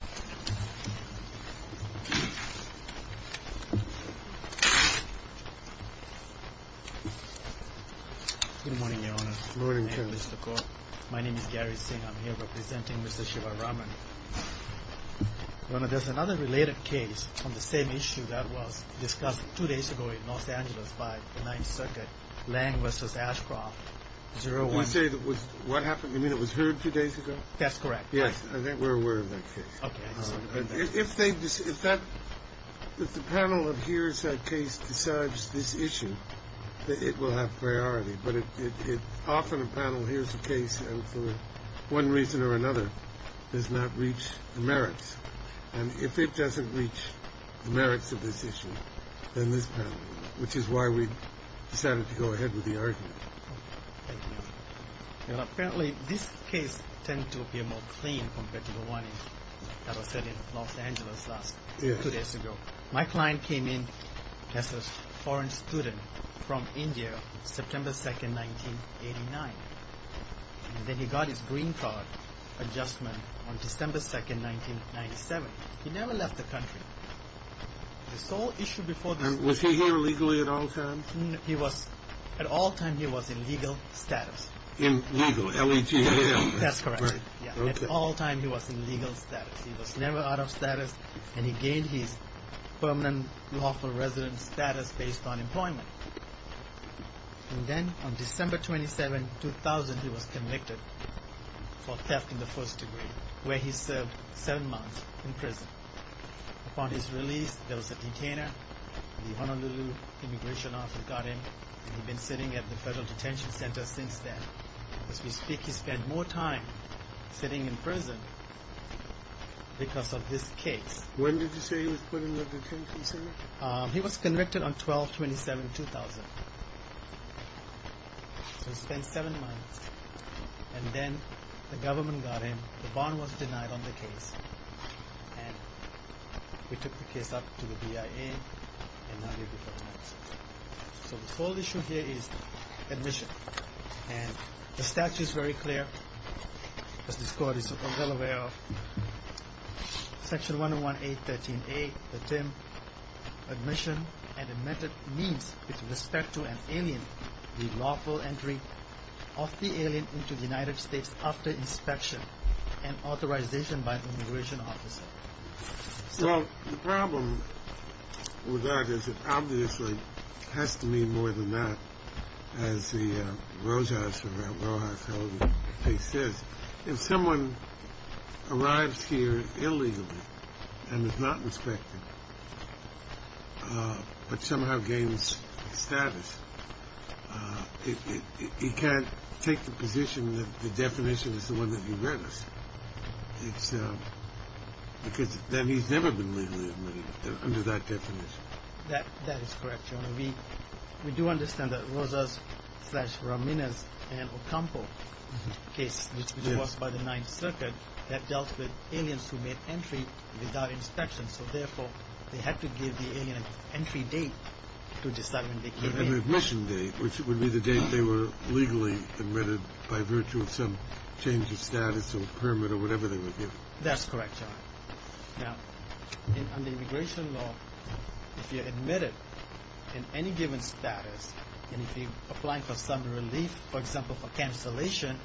Good morning, Your Honor. My name is Gary Singh. I'm here representing Mr. Shivaraman. There's another related case on the same issue that was discussed two days ago in Los Angeles by the Ninth Circuit, Lange v. Ashcroft. You mean it was heard two days ago? That's correct. Yes, I think we're aware of that case. If the panel that hears that case decides this issue, it will have priority. But often a panel hears a case and for one reason or another does not reach the merits. And if it doesn't reach the merits of this issue, then this panel, which is why we decided to go ahead with the argument. Thank you. Apparently this case tends to appear more clean compared to the one that was said in Los Angeles two days ago. My client came in as a foreign student from India, September 2nd, 1989. And then he got his green card adjustment on December 2nd, 1997. He never left the country. The sole issue before this was... And was he here legally at all times? At all times he was in legal status. In legal, L-E-G-L. That's correct. At all times he was in legal status. He was never out of status and he gained his permanent lawful residence status based on employment. And then on December 27, 2000, he was convicted for theft in the first degree, where he served seven months in prison. Upon his release, there was a detainer. The Honolulu immigration office got him. And he'd been sitting at the federal detention center since then. As we speak, he spent more time sitting in prison because of this case. When did you say he was put under detention, sir? He was convicted on 12-27-2000. So he spent seven months. And then the government got him. The bond was denied on the case. And we took the case up to the BIA. So the sole issue here is admission. And the statute is very clear, as this court is well aware of. Section 101-A-13-A, the term admission and admitted means, with respect to an alien, the lawful entry of the alien into the United States after inspection and authorization by an immigration officer. Well, the problem with that is it obviously has to mean more than that. As the rosehouser at Mohawk County case says. If someone arrives here illegally and is not inspected but somehow gains status, he can't take the position that the definition is the one that he read us. Because then he's never been legally admitted under that definition. That is correct, Your Honor. We do understand that Roseh's-Ramirez and Ocampo case, which was by the Ninth Circuit, that dealt with aliens who made entry without inspection. So therefore, they had to give the alien an entry date to decide when they came in. An admission date, which would be the date they were legally admitted by virtue of some change of status or permit or whatever they were given. That's correct, Your Honor. Now, under immigration law, if you're admitted in any given status, and if you're applying for some relief, for example, for cancellation,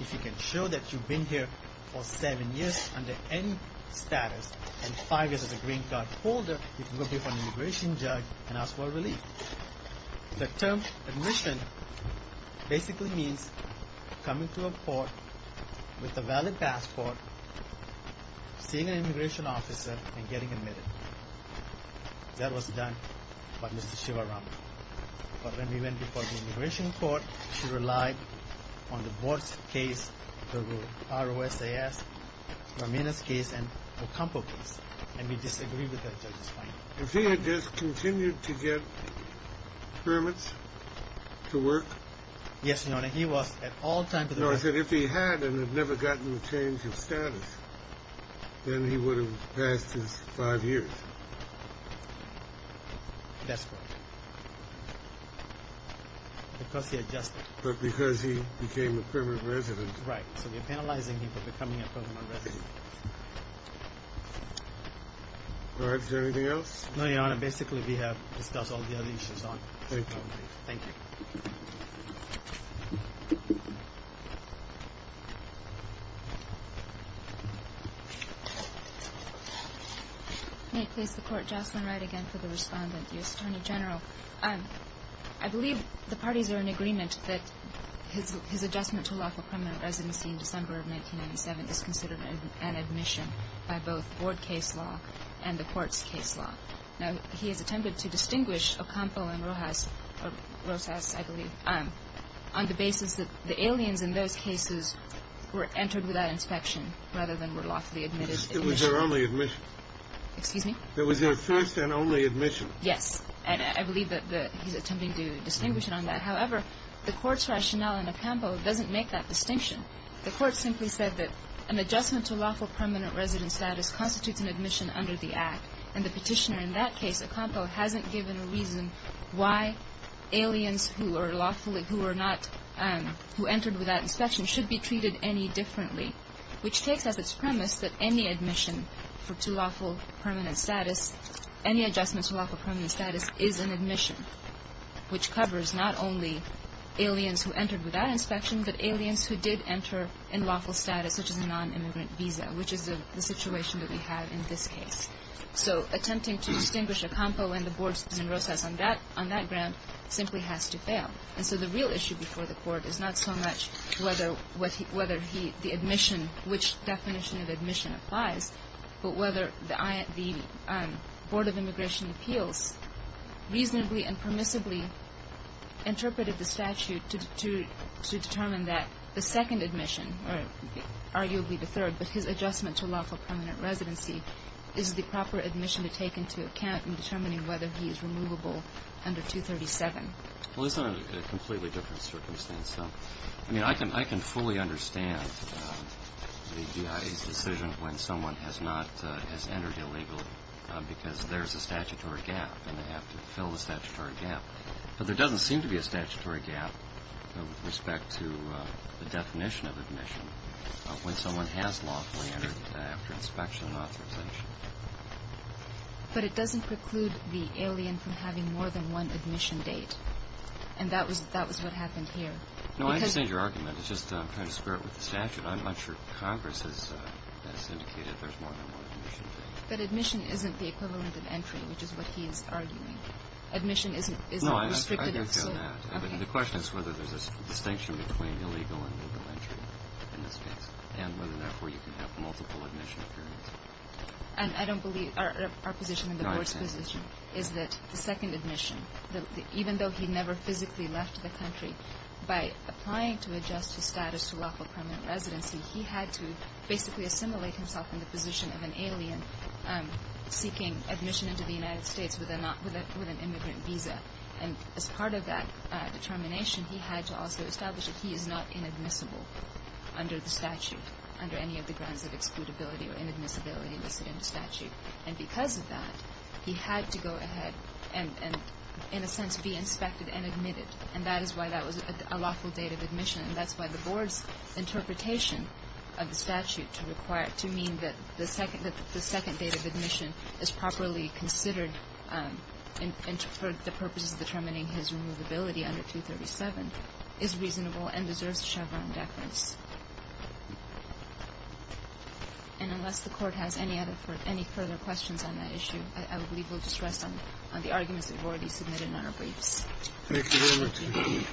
if you can show that you've been here for seven years under any status and five years as a green card holder, you can go before an immigration judge and ask for relief. The term admission basically means coming to a court with a valid passport, seeing an immigration officer, and getting admitted. That was done by Mrs. Shivaram. But when we went before the immigration court, she relied on the board's case, the ROSAS, Ramirez case, and Ocampo case. And we disagreed with that judge's finding. If he had just continued to get permits to work... Yes, Your Honor. He was at all times... No, I said if he had and had never gotten a change of status, then he would have passed his five years. That's correct. Because he adjusted. But because he became a permanent resident. Right. So you're penalizing him for becoming a permanent resident. All right. Is there anything else? No, Your Honor. Basically, we have discussed all the other issues. Thank you. May I please the Court, Jocelyn Wright again for the respondent, U.S. Attorney General. I believe the parties are in agreement that his adjustment to lawful permanent residency in December of 1997 is considered an admission by both board case law and the court's case law. Now, he has attempted to distinguish Ocampo and ROSAS, I believe, on the basis that the aliens in those cases were entered without inspection rather than were lawfully admitted. It was their only admission. Excuse me? It was their first and only admission. Yes. And I believe that he's attempting to distinguish it on that. However, the court's rationale in Ocampo doesn't make that distinction. The court simply said that an adjustment to lawful permanent resident status constitutes an admission under the Act. And the petitioner in that case, Ocampo, hasn't given a reason why aliens who are lawfully who are not, who entered without inspection should be treated any differently, which takes as its premise that any admission for too lawful permanent status, any adjustments to lawful permanent status is an admission, which covers not only aliens who entered without inspection, but aliens who did enter in lawful status, such as a nonimmigrant visa, which is the situation that we have in this case. So attempting to distinguish Ocampo and the boards in ROSAS on that ground simply has to fail. And so the real issue before the court is not so much whether the admission, which definition of admission applies, but whether the Board of Immigration Appeals reasonably and permissibly interpreted the statute to determine that the second admission, or arguably the third, but his adjustment to lawful permanent residency, is the proper admission to take into account in determining whether he is removable under 237. Well, it's not a completely different circumstance, though. I mean, I can fully understand the GIA's decision when someone has entered illegally because there's a statutory gap and they have to fill the statutory gap. But there doesn't seem to be a statutory gap with respect to the definition of admission when someone has lawfully entered after inspection and authorization. But it doesn't preclude the alien from having more than one admission date, and that was what happened here. No, I understand your argument. It's just I'm trying to square it with the statute. I'm not sure Congress has indicated there's more than one admission date. But admission isn't the equivalent of entry, which is what he's arguing. Admission isn't restricted. No, I understand that. But the question is whether there's a distinction between illegal and legal entry in this case and whether, therefore, you can have multiple admission periods. And I don't believe our position and the Board's position is that the second admission, even though he never physically left the country, by applying to adjust his status to lawful permanent residency, he had to basically assimilate himself in the position of an alien seeking admission into the United States with an immigrant visa. And as part of that determination, he had to also establish that he is not inadmissible under the statute, under any of the grounds of excludability or inadmissibility listed in the statute. And because of that, he had to go ahead and, in a sense, be inspected and admitted. And that is why that was a lawful date of admission. And that's why the Board's interpretation of the statute to require, to mean that the second date of admission is properly considered for the purposes of determining his removability under 237 is reasonable and deserves Chevron deference. And unless the Court has any further questions on that issue, I believe we'll just rest on the arguments that have already been submitted in our briefs. Thank you very much.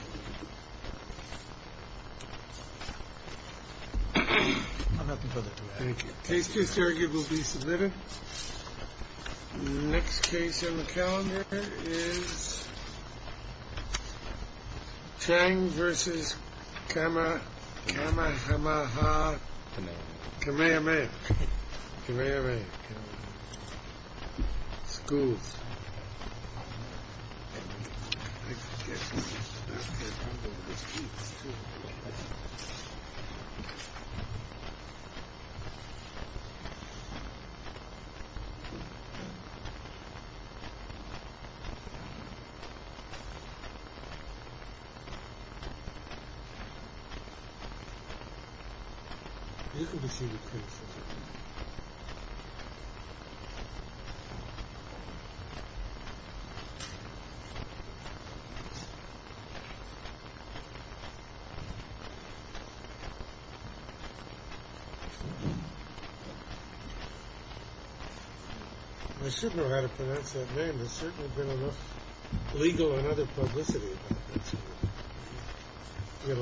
I have nothing further to add. Thank you. The case case argument will be submitted. Next case on the calendar is Chang versus camera camera. Come here, man. Come here, man. School. You can be seated, please. I should know how to pronounce that name. There's certainly been enough legal and other publicity about that. You've got a lot of cases.